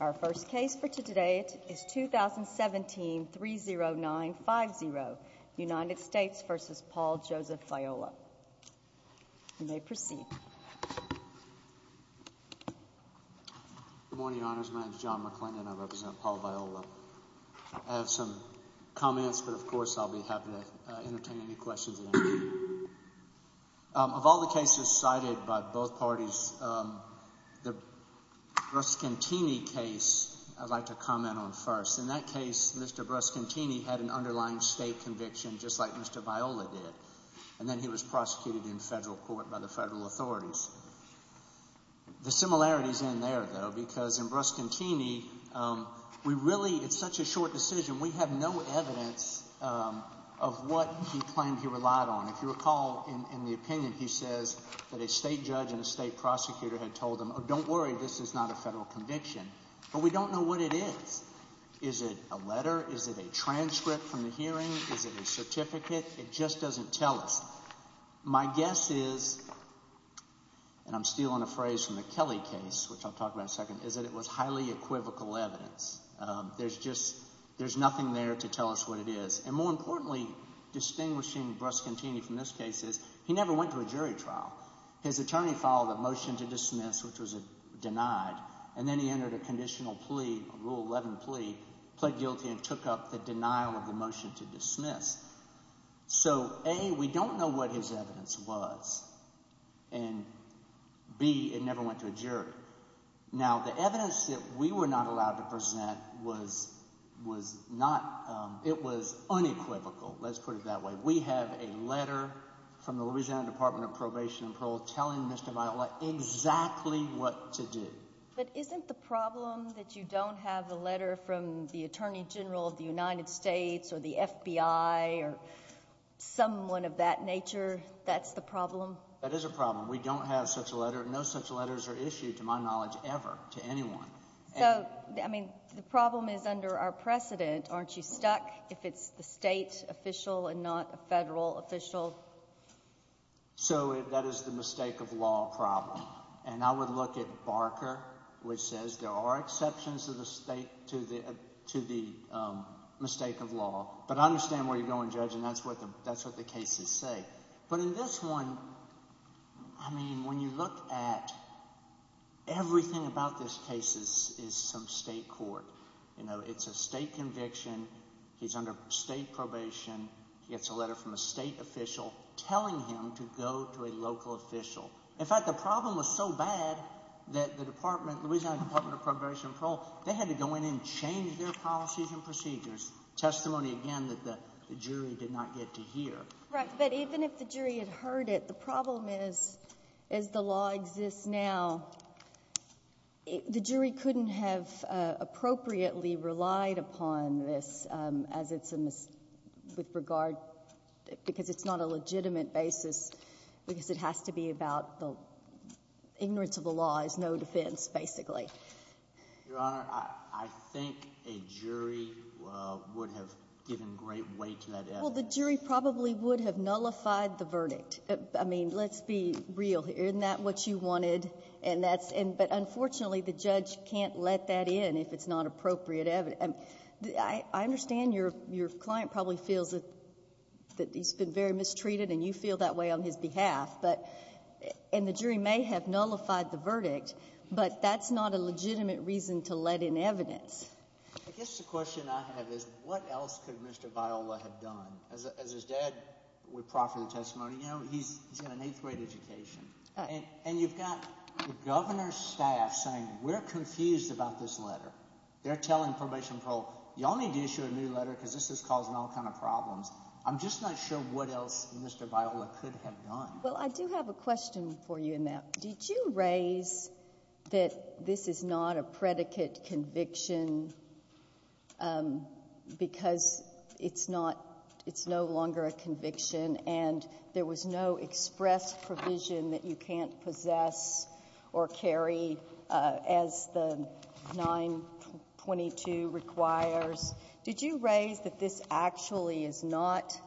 Our first case for today is 2017-30950, United States v. Paul Joseph Viola. You may proceed. Good morning, Your Honors. My name is John McClendon. I represent Paul Viola. I have some comments, but of course I'll be happy to entertain any questions at any time. Of all the cases cited by both parties, the Bruscantini case I'd like to comment on first. In that case, Mr. Bruscantini had an underlying state conviction just like Mr. Viola did, and then he was prosecuted in federal court by the federal authorities. The similarities end there, though, because in Bruscantini we really – it's such a short decision. We have no evidence of what he claimed he relied on. If you recall in the opinion, he says that a state judge and a state prosecutor had told him, oh, don't worry, this is not a federal conviction. But we don't know what it is. Is it a letter? Is it a transcript from the hearing? Is it a certificate? It just doesn't tell us. My guess is – and I'm stealing a phrase from the Kelly case, which I'll talk about in a second – is that it was highly equivocal evidence. There's just – there's nothing there to tell us what it is. And more importantly, distinguishing Bruscantini from this case is he never went to a jury trial. His attorney filed a motion to dismiss, which was denied, and then he entered a conditional plea, a Rule 11 plea, pled guilty and took up the denial of the motion to dismiss. So, A, we don't know what his evidence was, and B, it never went to a jury. Now, the evidence that we were not allowed to present was not – it was unequivocal, let's put it that way. We have a letter from the Louisiana Department of Probation and Parole telling Mr. Viola exactly what to do. But isn't the problem that you don't have a letter from the attorney general of the United States or the FBI or someone of that nature? That's the problem? That is a problem. We don't have such a letter. No such letters are issued, to my knowledge, ever to anyone. So, I mean, the problem is under our precedent. Aren't you stuck if it's the state official and not a federal official? So that is the mistake of law problem. And I would look at Barker, which says there are exceptions to the mistake of law. But I understand where you're going, Judge, and that's what the cases say. But in this one, I mean when you look at everything about this case is some state court. It's a state conviction. He's under state probation. He gets a letter from a state official telling him to go to a local official. In fact, the problem was so bad that the department, Louisiana Department of Probation and Parole, they had to go in and change their policies and procedures. Testimony, again, that the jury did not get to hear. Right. But even if the jury had heard it, the problem is, as the law exists now, the jury couldn't have appropriately relied upon this as it's a mis- Because it's not a legitimate basis because it has to be about the ignorance of the law is no defense, basically. Your Honor, I think a jury would have given great weight to that evidence. Well, the jury probably would have nullified the verdict. I mean, let's be real here. Isn't that what you wanted? But unfortunately, the judge can't let that in if it's not appropriate evidence. I understand your client probably feels that he's been very mistreated and you feel that way on his behalf. And the jury may have nullified the verdict, but that's not a legitimate reason to let in evidence. I guess the question I have is what else could Mr. Viola have done? As his dad would proffer the testimony, you know, he's got an eighth-grade education. And you've got the governor's staff saying we're confused about this letter. They're telling Probation Pro, y'all need to issue a new letter because this is causing all kinds of problems. I'm just not sure what else Mr. Viola could have done. Well, I do have a question for you in that. Did you raise that this is not a predicate conviction because it's no longer a conviction and there was no express provision that you can't possess or carry as the 922 requires? Did you raise that this actually is not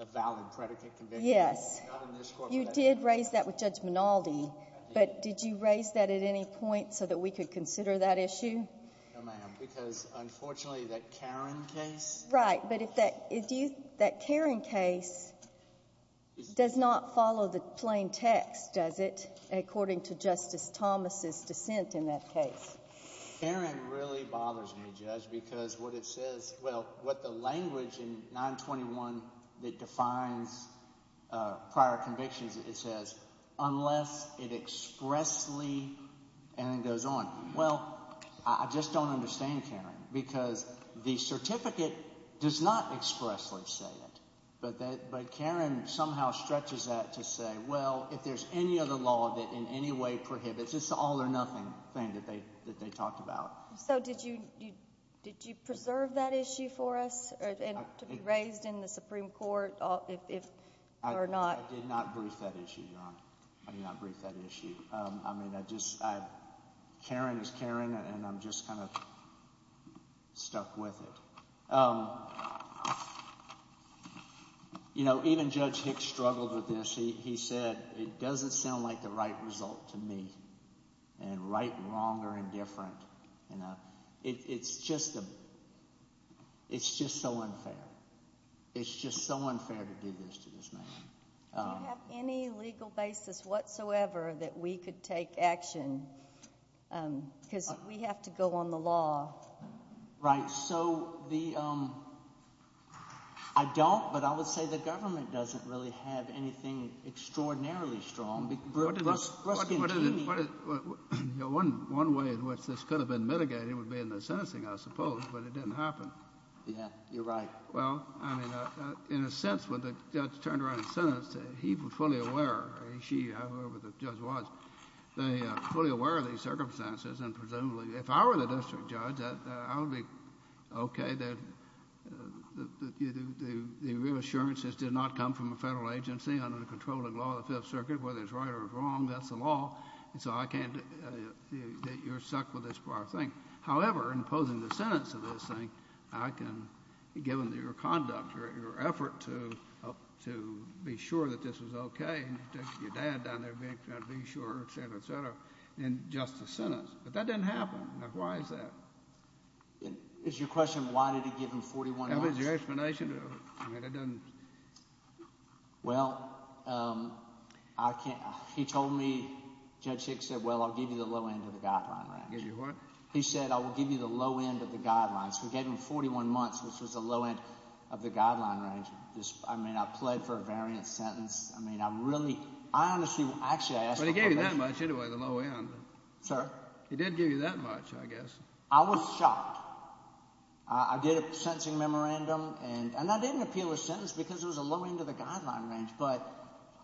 a valid predicate conviction? Yes. You did raise that with Judge Minaldi, but did you raise that at any point so that we could consider that issue? No, ma'am, because unfortunately that Caron case— Right, but that Caron case does not follow the plain text, does it, according to Justice Thomas' dissent in that case? Caron really bothers me, Judge, because what it says—well, what the language in 921 that defines prior convictions, it says unless it expressly—and it goes on. Well, I just don't understand, Caron, because the certificate does not expressly say it. But Caron somehow stretches that to say, well, if there's any other law that in any way prohibits, it's just an all-or-nothing thing that they talked about. So did you preserve that issue for us to be raised in the Supreme Court or not? I did not brief that issue, Your Honor. I did not brief that issue. I mean I just—Caron is Caron, and I'm just kind of stuck with it. You know, even Judge Hicks struggled with this. He said it doesn't sound like the right result to me, and right and wrong are indifferent. It's just so unfair. It's just so unfair to do this to this man. Do you have any legal basis whatsoever that we could take action because we have to go on the law? Right. So the—I don't, but I would say the government doesn't really have anything extraordinarily strong. One way in which this could have been mitigated would be in the sentencing, I suppose, but it didn't happen. Yeah, you're right. Well, I mean in a sense when the judge turned around and sentenced it, he was fully aware, he, she, whoever the judge was, they were fully aware of these circumstances and presumably, if I were the district judge, I would be okay that the reassurances did not come from a federal agency under the controlling law of the Fifth Circuit, whether it's right or wrong, that's the law. And so I can't—you're stuck with this part of the thing. However, in posing the sentence of this thing, I can, given your conduct or your effort to be sure that this was okay, and you took your dad down there trying to be sure, et cetera, et cetera, in just a sentence, but that didn't happen. Now, why is that? It's your question, why did he give him 41 months? That was your explanation? I mean, it doesn't— Well, I can't—he told me, Judge Hicks said, well, I'll give you the low end of the guideline range. Give you what? He said, I will give you the low end of the guidelines. We gave him 41 months, which was the low end of the guideline range. I mean, I pled for a variant sentence. I mean, I really—I honestly—actually, I asked— But he gave you that much anyway, the low end. Sir? He did give you that much, I guess. I was shocked. I did a sentencing memorandum, and I didn't appeal a sentence because it was a low end of the guideline range. But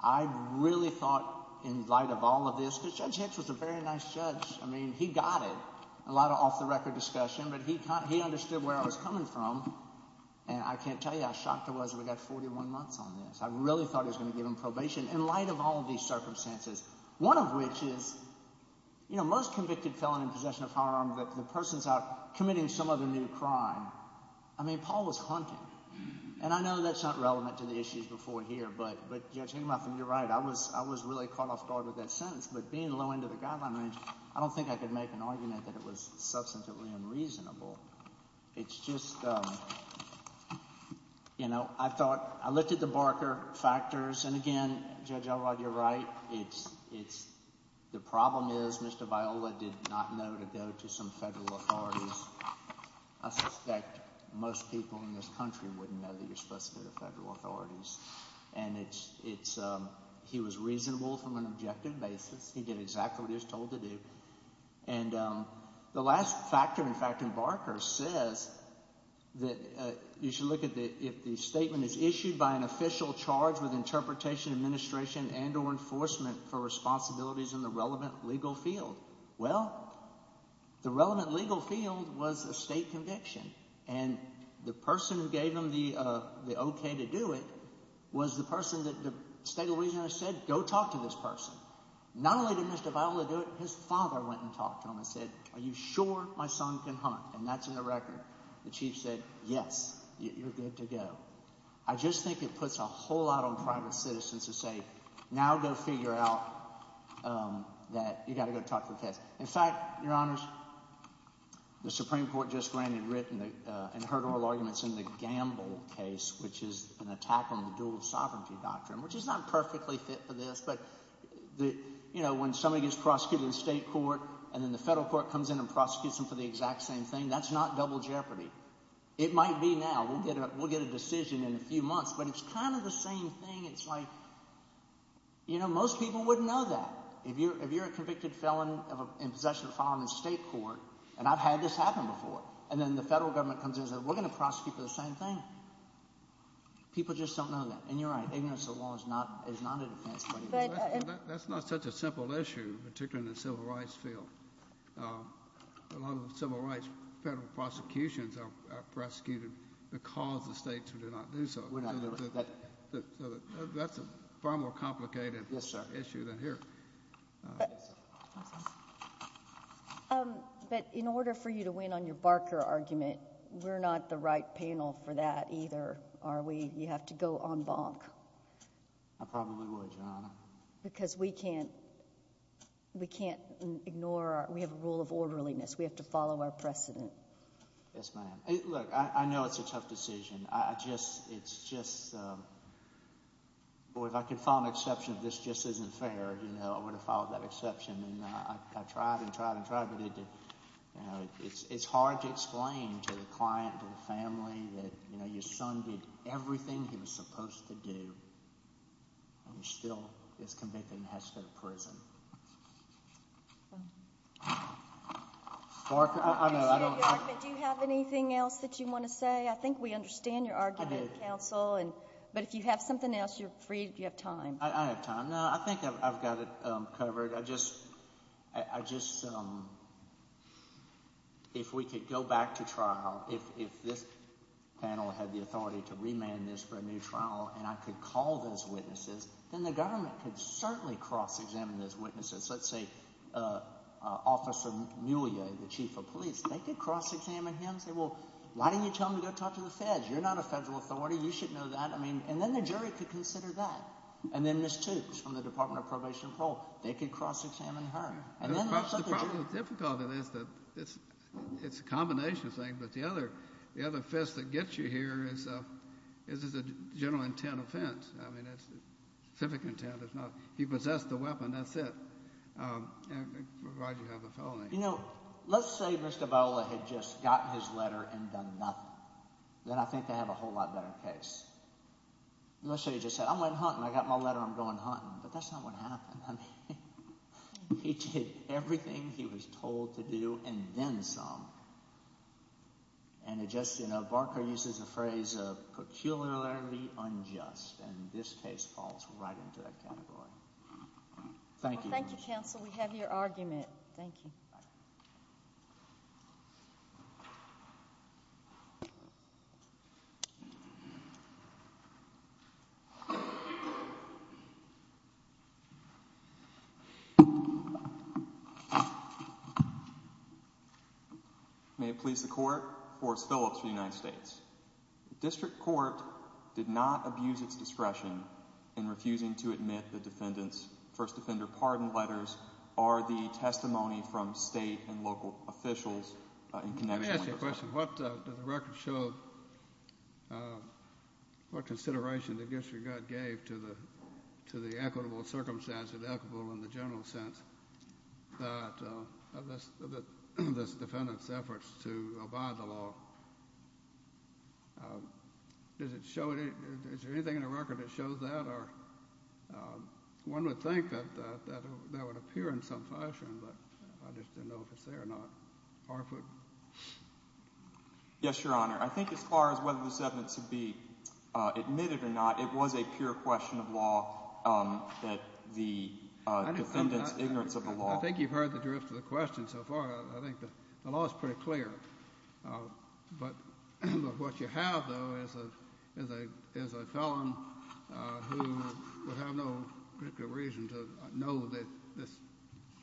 I really thought in light of all of this, because Judge Hicks was a very nice judge. I mean, he got it. A lot of off-the-record discussion, but he understood where I was coming from. And I can't tell you how shocked I was that we got 41 months on this. I really thought he was going to give him probation in light of all of these circumstances, one of which is— most convicted felon in possession of firearms, the person is out committing some other new crime. I mean, Paul was hunting. And I know that's not relevant to the issues before here, but, Judge Hickman, you're right. I was really caught off guard with that sentence. But being low end of the guideline range, I don't think I could make an argument that it was substantively unreasonable. It's just—I thought—I looked at the Barker factors, and again, Judge Elrod, you're right. It's—the problem is Mr. Viola did not know to go to some federal authorities. I suspect most people in this country wouldn't know that you're supposed to go to federal authorities. And it's—he was reasonable from an objective basis. He did exactly what he was told to do. And the last factor, in fact, in Barker says that you should look at the— if the statement is issued by an official charged with interpretation, administration, and or enforcement for responsibilities in the relevant legal field. Well, the relevant legal field was a state conviction. And the person who gave him the okay to do it was the person that the state of Louisiana said go talk to this person. Not only did Mr. Viola do it, his father went and talked to him and said, are you sure my son can hunt? And that's in the record. The chief said, yes, you're good to go. I just think it puts a whole lot on private citizens to say now go figure out that you've got to go talk to the case. In fact, Your Honors, the Supreme Court just granted written and heard oral arguments in the Gamble case, which is an attack on the dual sovereignty doctrine, which is not perfectly fit for this. But when somebody gets prosecuted in state court and then the federal court comes in and prosecutes them for the exact same thing, that's not double jeopardy. It might be now. We'll get a decision in a few months, but it's kind of the same thing. It's like most people wouldn't know that. If you're a convicted felon in possession of a firearm in state court, and I've had this happen before, and then the federal government comes in and says we're going to prosecute for the same thing. People just don't know that. And you're right. That's not such a simple issue, particularly in the civil rights field. A lot of civil rights federal prosecutions are prosecuted because the states do not do so. That's a far more complicated issue than here. But in order for you to win on your Barker argument, we're not the right panel for that either. You have to go en banc. I probably would, Your Honor. Because we can't ignore our—we have a rule of orderliness. We have to follow our precedent. Yes, ma'am. Look, I know it's a tough decision. I just—it's just—boy, if I could follow an exception, this just isn't fair. I would have followed that exception. And I tried and tried and tried, but it's hard to explain to the client, to the family, that your son did everything he was supposed to do, and he still is convicted and has to go to prison. Do you have anything else that you want to say? I think we understand your argument, counsel. I do. But if you have something else, you're free if you have time. I have time. No, I think I've got it covered. I just—I just—if we could go back to trial, if this panel had the authority to remand this for a new trial and I could call those witnesses, then the government could certainly cross-examine those witnesses. Let's say Officer Muglia, the chief of police. They could cross-examine him and say, well, why didn't you tell him to go talk to the feds? You're not a federal authority. You should know that. I mean—and then the jury could consider that. And then Ms. Toopes from the Department of Probation and Parole. They could cross-examine her. And then let's let the jury— The problem with difficulty is that it's a combination of things, but the other fist that gets you here is a general intent offense. I mean it's civic intent. It's not—he possessed the weapon. That's it. Provided you have a felony. You know, let's say Mr. Viola had just gotten his letter and done nothing. Then I think they have a whole lot better case. Let's say he just said, I went hunting. I got my letter. I'm going hunting. But that's not what happened. I mean he did everything he was told to do and then some. And it just—Barker uses the phrase peculiarly unjust, and this case falls right into that category. Thank you. Thank you, counsel. We have your argument. Thank you. Thank you. May it please the Court. Forrest Phillips for the United States. The district court did not abuse its discretion in refusing to admit the defendant's first offender pardon letters or the testimony from state and local officials— Let me ask you a question. What does the record show, what consideration the district court gave to the equitable circumstances, equitable in the general sense, of this defendant's efforts to abide the law? Does it show—is there anything in the record that shows that? Or one would think that that would appear in some fashion, but I just didn't know if it's there or not. Harford? Yes, Your Honor. I think as far as whether this evidence should be admitted or not, it was a pure question of law that the defendant's ignorance of the law— I think you've heard the drift of the question so far. I think the law is pretty clear. But what you have, though, is a felon who would have no particular reason to know this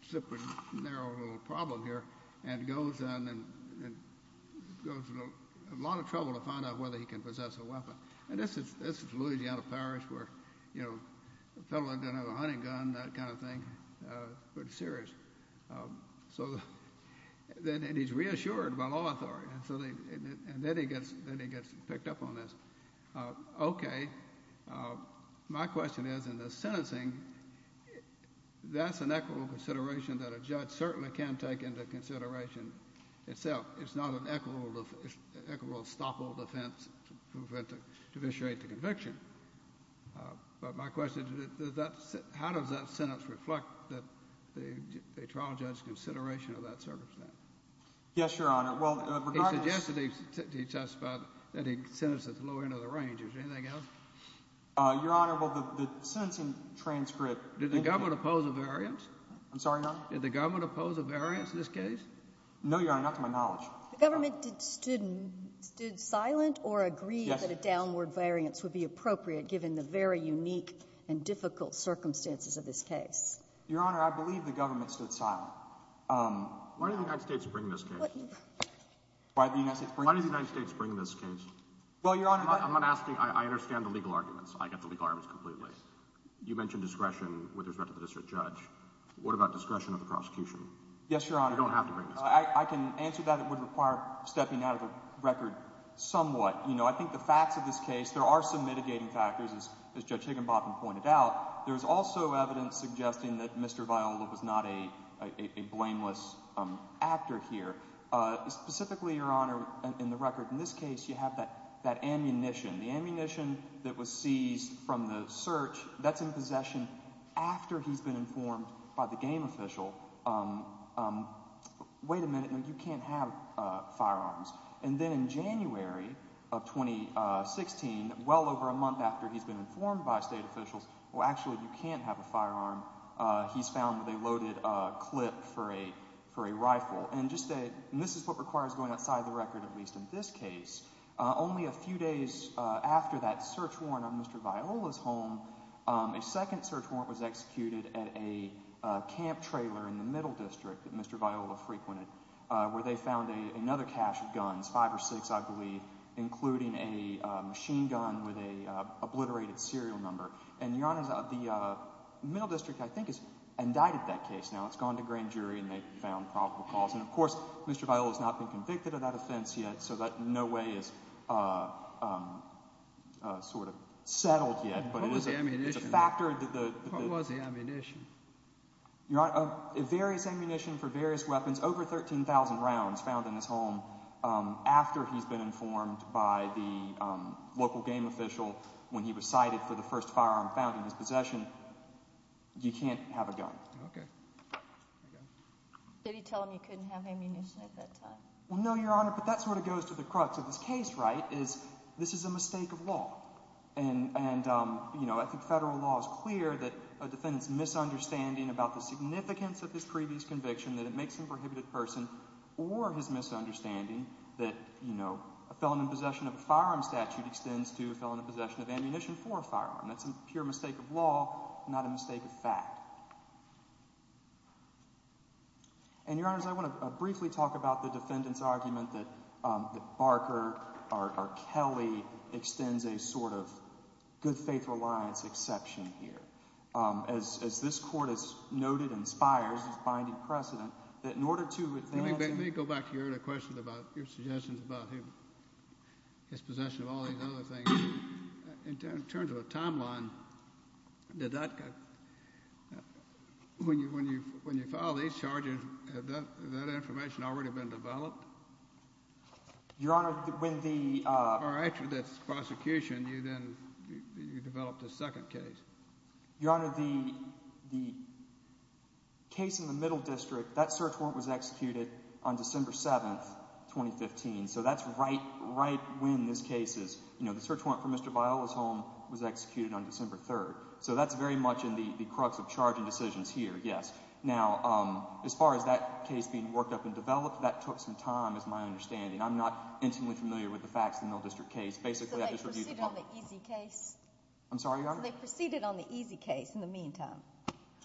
super narrow little problem here and goes in and goes to a lot of trouble to find out whether he can possess a weapon. And this is Louisiana Parish where, you know, a felon doesn't have a hunting gun, that kind of thing. Pretty serious. And he's reassured by law authority. And then he gets picked up on this. Okay. My question is, in the sentencing, that's an equitable consideration that a judge certainly can take into consideration itself. It's not an equitable, stoppable defense to initiate the conviction. But my question is, how does that sentence reflect the trial judge's consideration of that circumstance? Yes, Your Honor. Well, regardless— He suggested to us that he sentenced at the lower end of the range. Is there anything else? Your Honor, well, the sentencing transcript— Did the government oppose a variance? I'm sorry, Your Honor? Did the government oppose a variance in this case? No, Your Honor. Not to my knowledge. The government stood silent or agreed that a downward variance would be appropriate given the very unique and difficult circumstances of this case? Your Honor, I believe the government stood silent. Why did the United States bring this case? Why did the United States bring this case? Why did the United States bring this case? Well, Your Honor— I'm not asking—I understand the legal arguments. I get the legal arguments completely. You mentioned discretion with respect to the district judge. What about discretion of the prosecution? Yes, Your Honor. They don't have to bring this case. I can answer that. It would require stepping out of the record somewhat. I think the facts of this case—there are some mitigating factors, as Judge Higginbotham pointed out. There's also evidence suggesting that Mr. Viola was not a blameless actor here. Specifically, Your Honor, in the record in this case, you have that ammunition. The ammunition that was seized from the search, that's in possession after he's been informed by the game official. Wait a minute. You can't have firearms. And then in January of 2016, well over a month after he's been informed by state officials, well, actually, you can't have a firearm. He's found that they loaded a clip for a rifle. And this is what requires going outside the record, at least in this case. Only a few days after that search warrant on Mr. Viola's home, a second search warrant was executed at a camp trailer in the Middle District that Mr. Viola frequented where they found another cache of guns, five or six, I believe, including a machine gun with an obliterated serial number. And, Your Honor, the Middle District, I think, has indicted that case now. It's gone to grand jury, and they've found probable cause. And, of course, Mr. Viola has not been convicted of that offense yet, so that in no way is sort of settled yet. What was the ammunition? It's a factor that the— What was the ammunition? Your Honor, various ammunition for various weapons, over 13,000 rounds found in his home after he's been informed by the local game official when he was cited for the first firearm found in his possession. You can't have a gun. Okay. Did he tell him he couldn't have ammunition at that time? Well, no, Your Honor, but that sort of goes to the crux of this case, right, is this is a mistake of law. And, you know, I think federal law is clear that a defendant's misunderstanding about the significance of his previous conviction, that it makes him a prohibited person, or his misunderstanding that, you know, a felon in possession of a firearm statute extends to a felon in possession of ammunition for a firearm. That's a pure mistake of law, not a mistake of fact. And, Your Honors, I want to briefly talk about the defendant's argument that Barker or Kelly extends a sort of good faith reliance exception here. As this Court has noted and inspires this binding precedent that in order to advance— Let me go back to your earlier question about your suggestions about his possession of all these other things. In terms of a timeline, when you file these charges, has that information already been developed? Your Honor, when the— Or actually, that's the prosecution. You then developed a second case. Your Honor, the case in the Middle District, that search warrant was executed on December 7, 2015. So that's right when this case is—you know, the search warrant for Mr. Viola's home was executed on December 3. So that's very much in the crux of charging decisions here, yes. Now, as far as that case being worked up and developed, that took some time is my understanding. I'm not intimately familiar with the facts of the Middle District case. Basically, I just reviewed the— So they proceeded on the easy case? I'm sorry, Your Honor? So they proceeded on the easy case in the meantime?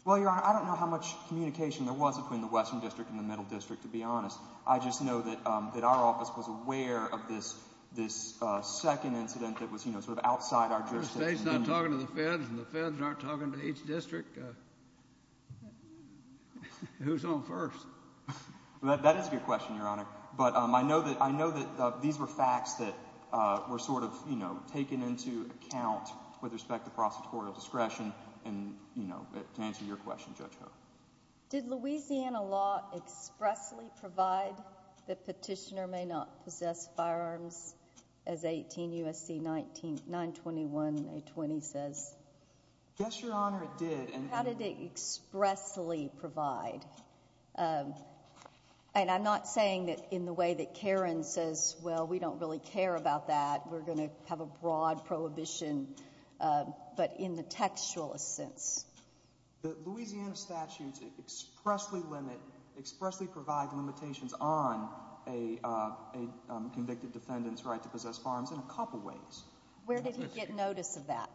Well, Your Honor, I don't know how much communication there was between the Western District and the Middle District, to be honest. I just know that our office was aware of this second incident that was, you know, sort of outside our jurisdiction. If the state's not talking to the feds and the feds aren't talking to each district, who's on first? That is a good question, Your Honor. But I know that these were facts that were sort of, you know, taken into account with respect to prosecutorial discretion. And, you know, to answer your question, Judge Ho. Did Louisiana law expressly provide that petitioner may not possess firearms, as 18 U.S.C. 921a20 says? Yes, Your Honor, it did. How did it expressly provide? And I'm not saying that in the way that Karen says, well, we don't really care about that, we're going to have a broad prohibition, but in the textual sense. The Louisiana statutes expressly limit, expressly provide limitations on a convicted defendant's right to possess firearms in a couple ways. Where did he get notice of that?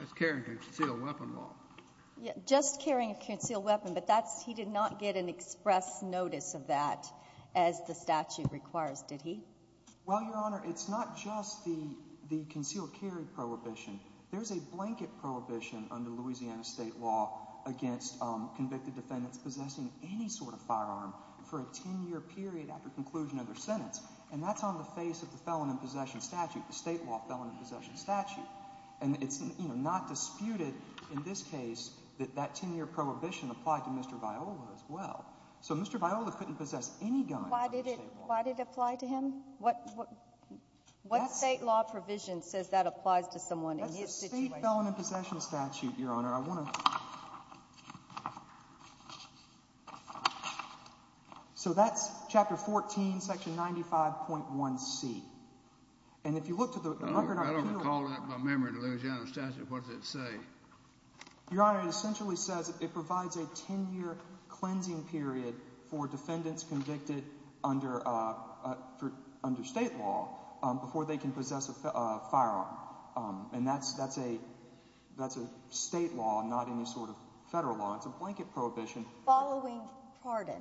Just carrying a concealed weapon law. Just carrying a concealed weapon, but that's, he did not get an express notice of that as the statute requires, did he? Well, Your Honor, it's not just the concealed carry prohibition. There's a blanket prohibition under Louisiana state law against convicted defendants possessing any sort of firearm for a 10-year period after conclusion of their sentence. And that's on the face of the felon in possession statute, the state law felon in possession statute. And it's, you know, not disputed in this case that that 10-year prohibition applied to Mr. Viola as well. So Mr. Viola couldn't possess any gun. Why did it apply to him? What state law provision says that applies to someone in his situation? That's the state felon in possession statute, Your Honor. So that's chapter 14, section 95.1c. And if you look to the record in our penal law. I don't recall that in my memory, the Louisiana statute, what does it say? Your Honor, it essentially says it provides a 10-year cleansing period for defendants convicted under state law before they can possess a firearm. And that's a state law, not any sort of federal law. It's a blanket prohibition. Following pardon.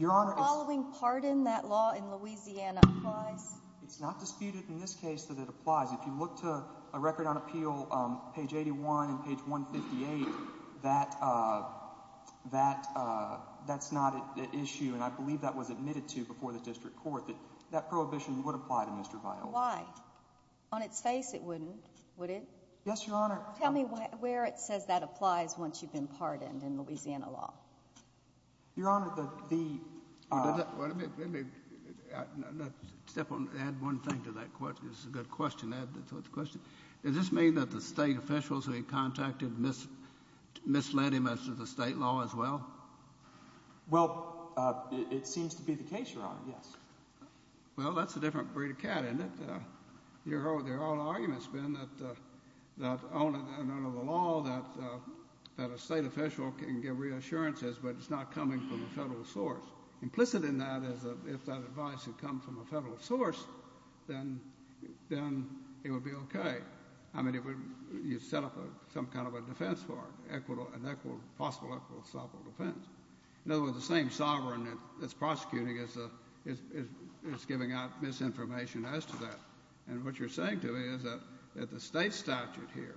Following pardon, that law in Louisiana applies? If you look to a record on appeal, page 81 and page 158, that's not an issue. And I believe that was admitted to before the district court that that prohibition would apply to Mr. Viola. Why? On its face it wouldn't, would it? Yes, Your Honor. Tell me where it says that applies once you've been pardoned in Louisiana law. Your Honor, the— Let me add one thing to that question. It's a good question to add to the question. Does this mean that the state officials that he contacted misled him as to the state law as well? Well, it seems to be the case, Your Honor, yes. Well, that's a different breed of cat, isn't it? Your whole argument's been that under the law that a state official can give reassurances, but it's not coming from a federal source. Implicit in that is that if that advice had come from a federal source, then it would be okay. I mean, you'd set up some kind of a defense for it, an equitable, possible equitable defense. In other words, the same sovereign that's prosecuting is giving out misinformation as to that. And what you're saying to me is that the state statute here,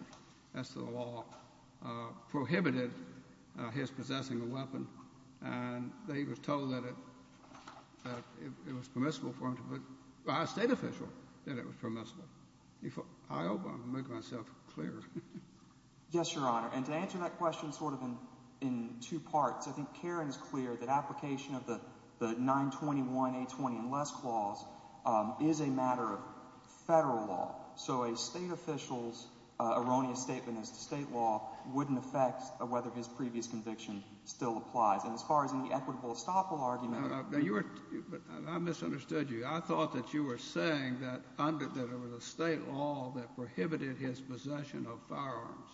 as to the law, prohibited his possessing a weapon. And that he was told that it was permissible for him to put—a state official said it was permissible. I hope I'm making myself clear. Yes, Your Honor. And to answer that question sort of in two parts, I think Karen is clear that application of the 921A20 and less clause is a matter of federal law. So a state official's erroneous statement as to state law wouldn't affect whether his previous conviction still applies. And as far as in the equitable estoppel argument— Now, you were—I misunderstood you. I thought that you were saying that under—that it was a state law that prohibited his possession of firearms.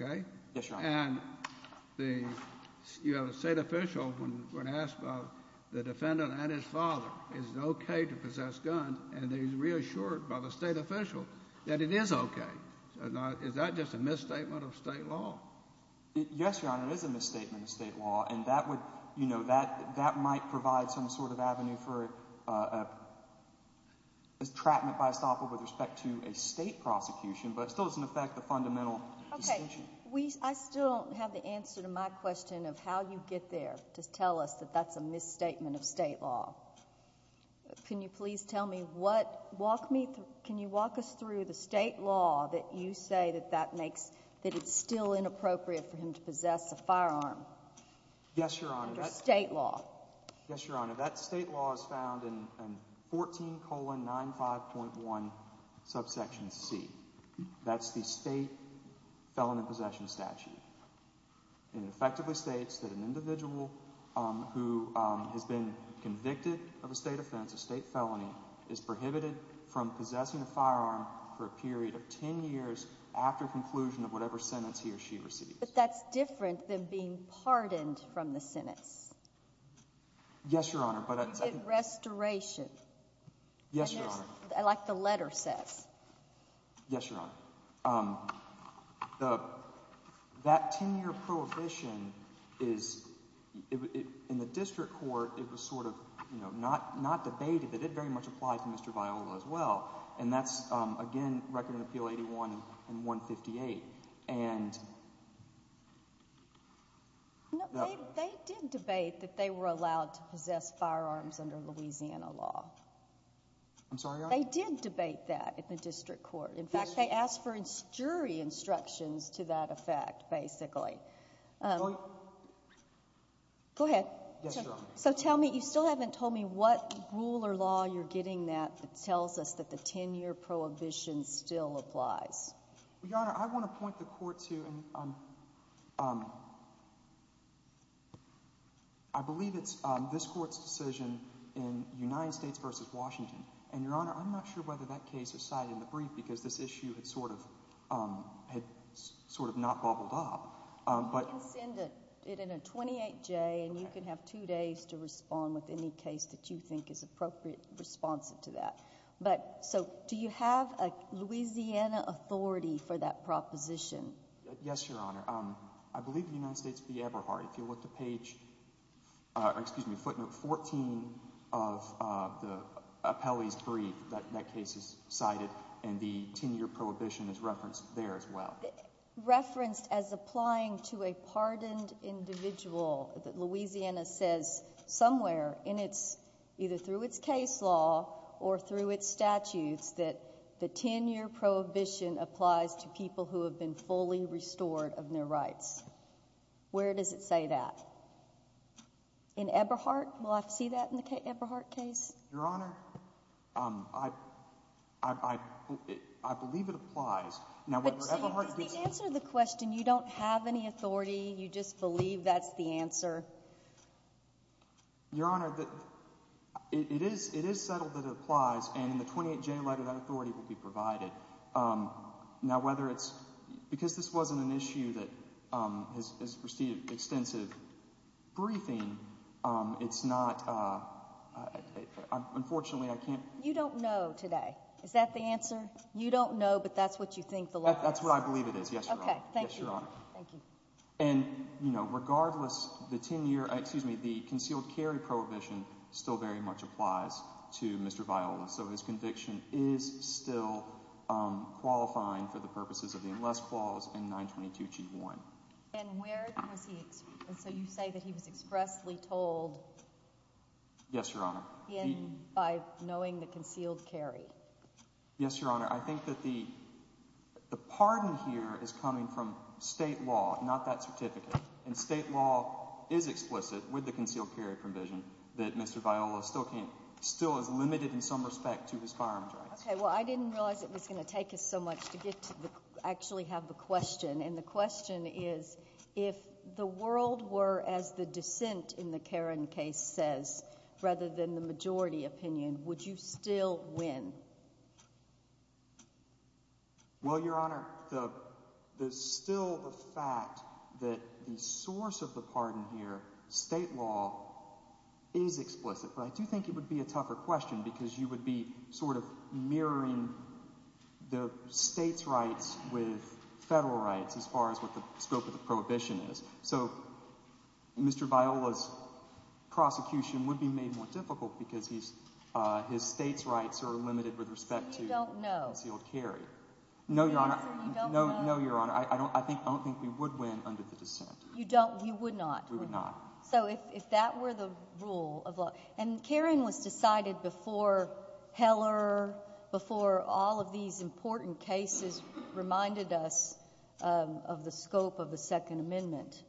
Okay? Yes, Your Honor. And the state official, when asked about the defendant and his father, is it okay to possess guns, and he's reassured by the state official that it is okay. Is that just a misstatement of state law? Yes, Your Honor. It is a misstatement of state law, and that would—you know, that might provide some sort of avenue for a—trapment by estoppel with respect to a state prosecution. But it still doesn't affect the fundamental distinction. We—I still don't have the answer to my question of how you get there to tell us that that's a misstatement of state law. Can you please tell me what—walk me—can you walk us through the state law that you say that that makes—that it's still inappropriate for him to possess a firearm? Yes, Your Honor. Under state law. Yes, Your Honor. That state law is found in 14 colon 95.1 subsection C. That's the state felon in possession statute. It effectively states that an individual who has been convicted of a state offense, a state felony, is prohibited from possessing a firearm for a period of 10 years after conclusion of whatever sentence he or she receives. But that's different than being pardoned from the sentence. Yes, Your Honor, but— Restoration. Yes, Your Honor. Like the letter says. Yes, Your Honor. That 10-year prohibition is—in the district court, it was sort of, you know, not debated, but it very much applied to Mr. Viola as well. And that's, again, Record and Appeal 81 and 158. No, they did debate that they were allowed to possess firearms under Louisiana law. I'm sorry, Your Honor? They did debate that in the district court. Yes, Your Honor. In fact, they asked for jury instructions to that effect, basically. Go ahead. Yes, Your Honor. So tell me—you still haven't told me what rule or law you're getting that tells us that the 10-year prohibition still applies. Well, Your Honor, I want to point the court to—I believe it's this court's decision in United States v. Washington. And, Your Honor, I'm not sure whether that case was cited in the brief because this issue had sort of not bobbled up. You can send it in a 28-J, and you can have two days to respond with any case that you think is appropriate responsive to that. But—so do you have a Louisiana authority for that proposition? Yes, Your Honor. I believe in the United States v. Eberhardt, if you look at page—excuse me, footnote 14 of the appellee's brief, that case is cited, and the 10-year prohibition is referenced there as well. Referenced as applying to a pardoned individual that Louisiana says somewhere in its—either through its case law or through its statutes that the 10-year prohibition applies to people who have been fully restored of their rights. Where does it say that? In Eberhardt? Will I see that in the Eberhardt case? Your Honor, I believe it applies. But see, you didn't answer the question. You don't have any authority. You just believe that's the answer. Your Honor, it is settled that it applies, and in the 28-J letter, that authority will be provided. Now, whether it's—because this wasn't an issue that has received extensive briefing, it's not—unfortunately, I can't— You don't know today. Is that the answer? You don't know, but that's what you think the law is. That's what I believe it is, yes, Your Honor. Okay, thank you. Yes, Your Honor. Thank you. And regardless, the 10-year—excuse me, the concealed carry prohibition still very much applies to Mr. Viola. So his conviction is still qualifying for the purposes of the unless clause in 922g1. And where was he—so you say that he was expressly told— Yes, Your Honor. —by knowing the concealed carry. Yes, Your Honor. I think that the pardon here is coming from state law, not that certificate. And state law is explicit with the concealed carry provision that Mr. Viola still can't—still is limited in some respect to his firearms rights. Okay. Well, I didn't realize it was going to take us so much to get to the—actually have the question. And the question is if the world were as the dissent in the Caron case says rather than the majority opinion, would you still win? Well, Your Honor, still the fact that the source of the pardon here, state law, is explicit. But I do think it would be a tougher question because you would be sort of mirroring the state's rights with federal rights as far as what the scope of the prohibition is. So Mr. Viola's prosecution would be made more difficult because his state's rights are limited with respect to— So you don't know? —the concealed carry. No, Your Honor. So you don't know? No, Your Honor. I don't think we would win under the dissent. You don't—you would not? We would not. So if that were the rule of law—and Caron was decided before Heller, before all of these important cases reminded us of the scope of the Second Amendment.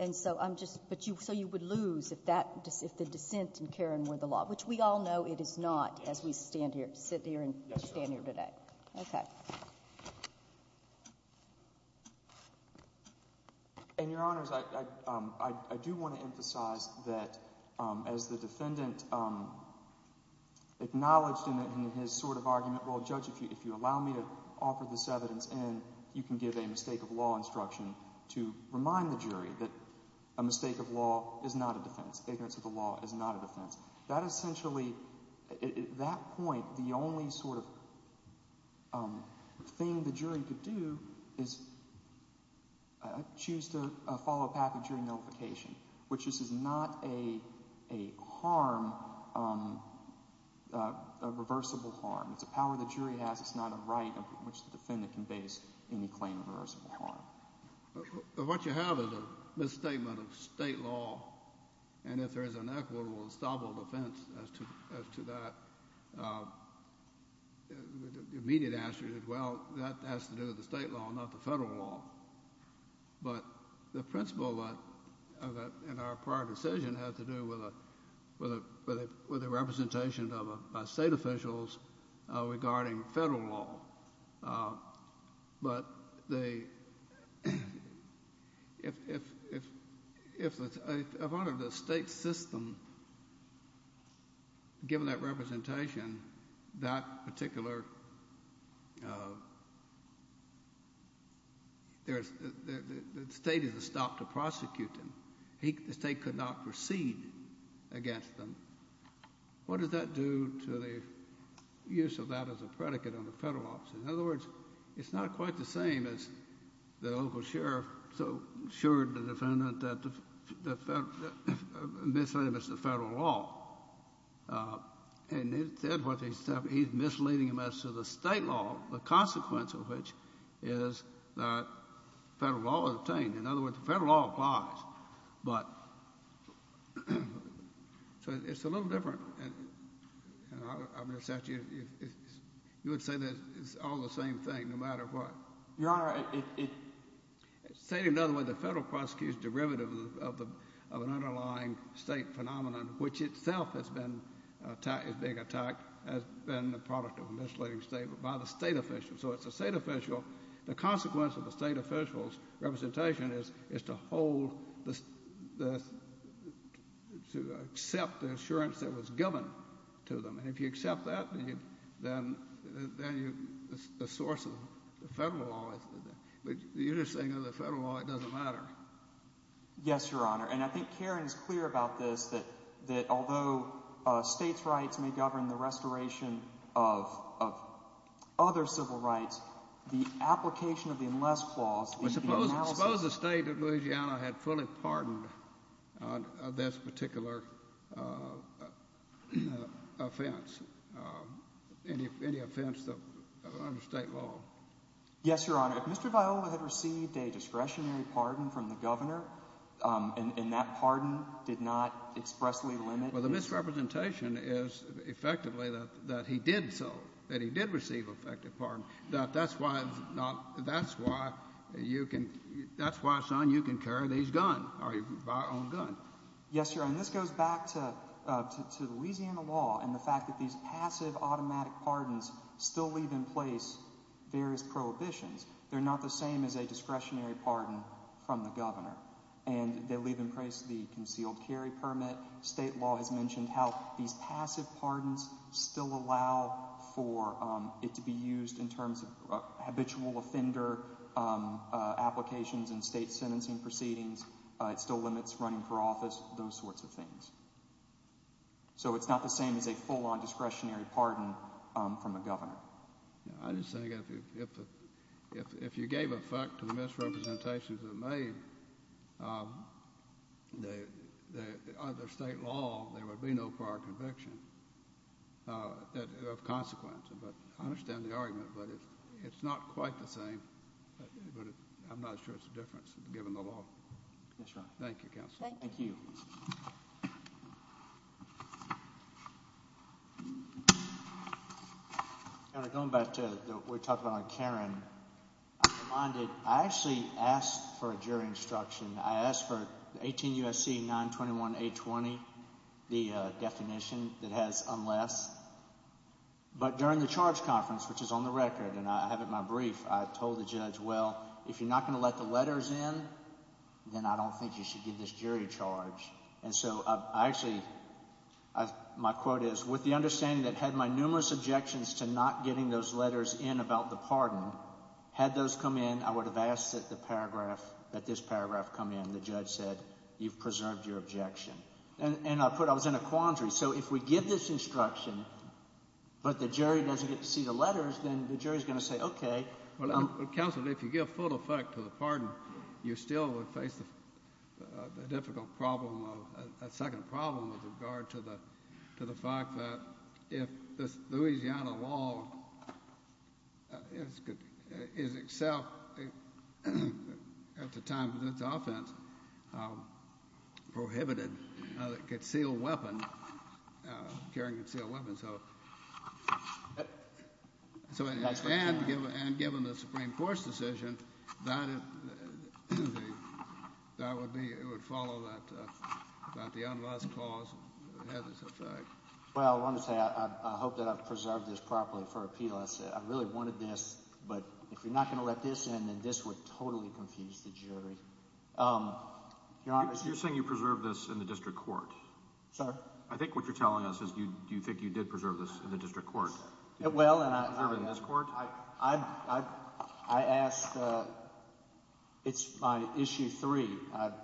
And so I'm just—but you—so you would lose if that—if the dissent in Caron were the law, which we all know it is not as we stand here—sit here and stand here today. Yes, Your Honor. Okay. Thank you. And, Your Honors, I do want to emphasize that as the defendant acknowledged in his sort of argument, well, Judge, if you allow me to offer this evidence and you can give a mistake of law instruction to remind the jury that a mistake of law is not a defense. Ignorance of the law is not a defense. That essentially—at that point, the only sort of thing the jury could do is choose to follow a path of jury notification, which is not a harm, a reversible harm. It's a power the jury has. It's not a right on which the defendant can base any claim of reversible harm. What you have is a misstatement of state law, and if there is an equitable and stable defense as to that, the immediate answer is, well, that has to do with the state law, not the federal law. But the principle in our prior decision has to do with the representation of state officials regarding federal law. But if a part of the state system, given that representation, that particular—the state is stopped to prosecute them. The state could not proceed against them. What does that do to the use of that as a predicate on the federal office? In other words, it's not quite the same as the local sheriff assured the defendant that the misstatement is the federal law. And he said what he said, but he's misleading us to the state law, the consequence of which is that federal law is obtained. In other words, the federal law applies, but—so it's a little different. You would say that it's all the same thing, no matter what. Your Honor, it— Say it another way. The federal prosecute is derivative of an underlying state phenomenon, which itself has been attacked—is being attacked as being the product of a misleading statement by the state official. So it's the state official—the consequence of the state official's representation is to hold the—to accept the assurance that was given to them. And if you accept that, then you—the source of the federal law is—but you're just saying that the federal law doesn't matter. Yes, Your Honor. And I think Karen is clear about this, that although states' rights may govern the restoration of other civil rights, the application of the unless clause in the analysis— Suppose the state of Louisiana had fully pardoned this particular offense, any offense under state law. Yes, Your Honor. If Mr. Viola had received a discretionary pardon from the governor and that pardon did not expressly limit— Well, the misrepresentation is effectively that he did so, that he did receive effective pardon, that that's why it's not—that's why you can—that's why, son, you can carry these guns or you can buy your own gun. Yes, Your Honor. And this goes back to Louisiana law and the fact that these passive automatic pardons still leave in place various prohibitions. They're not the same as a discretionary pardon from the governor. And they leave in place the concealed carry permit. State law has mentioned how these passive pardons still allow for it to be used in terms of habitual offender applications and state sentencing proceedings. It still limits running for office, those sorts of things. So it's not the same as a full-on discretionary pardon from the governor. I just think if you gave effect to the misrepresentations that are made under state law, there would be no prior conviction of consequence. But I understand the argument, but it's not quite the same, but I'm not sure it's the difference given the law. That's right. Thank you, Counsel. Thank you. Thank you. Going back to what we talked about on Karen, I'm reminded I actually asked for a jury instruction. I asked for 18 U.S.C. 921-820, the definition that has unless. But during the charge conference, which is on the record, and I have it in my brief, I told the judge, well, if you're not going to let the letters in, then I don't think you should give this jury charge. And so I actually, my quote is, with the understanding that had my numerous objections to not getting those letters in about the pardon, had those come in, I would have asked that the paragraph, that this paragraph come in. The judge said, you've preserved your objection. And I put, I was in a quandary. So if we give this instruction, but the jury doesn't get to see the letters, then the jury is going to say, okay. Counsel, if you give full effect to the pardon, you still would face a difficult problem, a second problem with regard to the fact that if the Louisiana law is itself, at the time of its offense, prohibited concealed weapon, carrying concealed weapons. And given the Supreme Court's decision, that would be, it would follow that the unlawful cause has its effect. Well, I want to say I hope that I've preserved this properly for appeal. I really wanted this. But if you're not going to let this in, then this would totally confuse the jury. Your Honor. You're saying you preserved this in the district court. Sir? I think what you're telling us is do you think you did preserve this in the district court? Well, and I. Preserved it in this court? I asked, it's my issue three.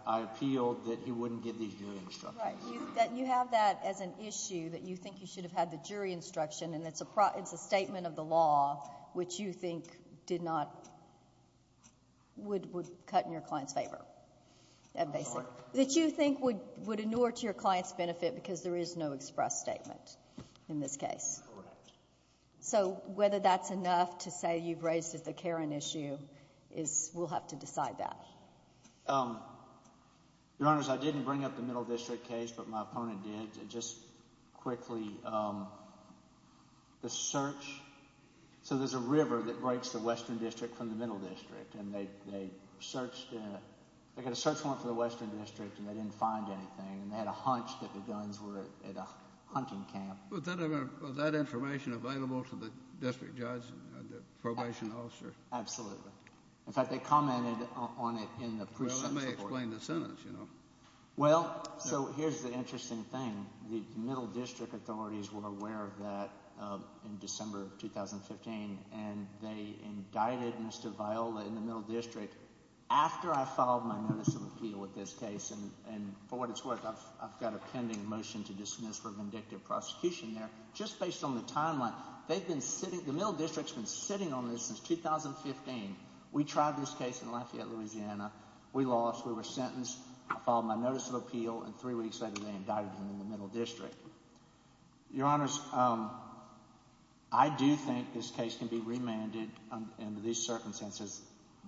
I appealed that he wouldn't give these jury instructions. Right. You have that as an issue that you think you should have had the jury instruction, and it's a statement of the law which you think did not, would cut in your client's favor. That you think would inure to your client's benefit because there is no express statement in this case. Correct. So whether that's enough to say you've raised it as a Karen issue is, we'll have to decide that. Your Honor, I didn't bring up the Middle District case, but my opponent did. Just quickly, the search. So there's a river that breaks the Western District from the Middle District, and they searched. They got a search warrant for the Western District, and they didn't find anything, and they had a hunch that the guns were at a hunting camp. Was that information available to the district judge, the probation officer? Absolutely. In fact, they commented on it in the precinct report. Well, that may explain the sentence. Well, so here's the interesting thing. The Middle District authorities were aware of that in December of 2015, and they indicted Mr. Viola in the Middle District after I filed my notice of appeal with this case. And for what it's worth, I've got a pending motion to dismiss for vindictive prosecution there. Just based on the timeline, they've been sitting – the Middle District has been sitting on this since 2015. We tried this case in Lafayette, Louisiana. We lost. We were sentenced. I filed my notice of appeal, and three weeks later they indicted him in the Middle District. Your Honors, I do think this case can be remanded under these circumstances.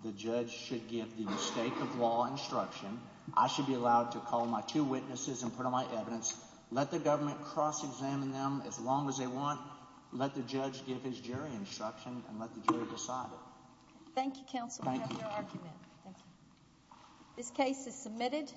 The judge should give the mistake of law instruction. I should be allowed to call my two witnesses and put on my evidence. Let the government cross-examine them as long as they want. Let the judge give his jury instruction and let the jury decide it. Thank you, counsel. Thank you. We have your argument. Thank you. This case is submitted.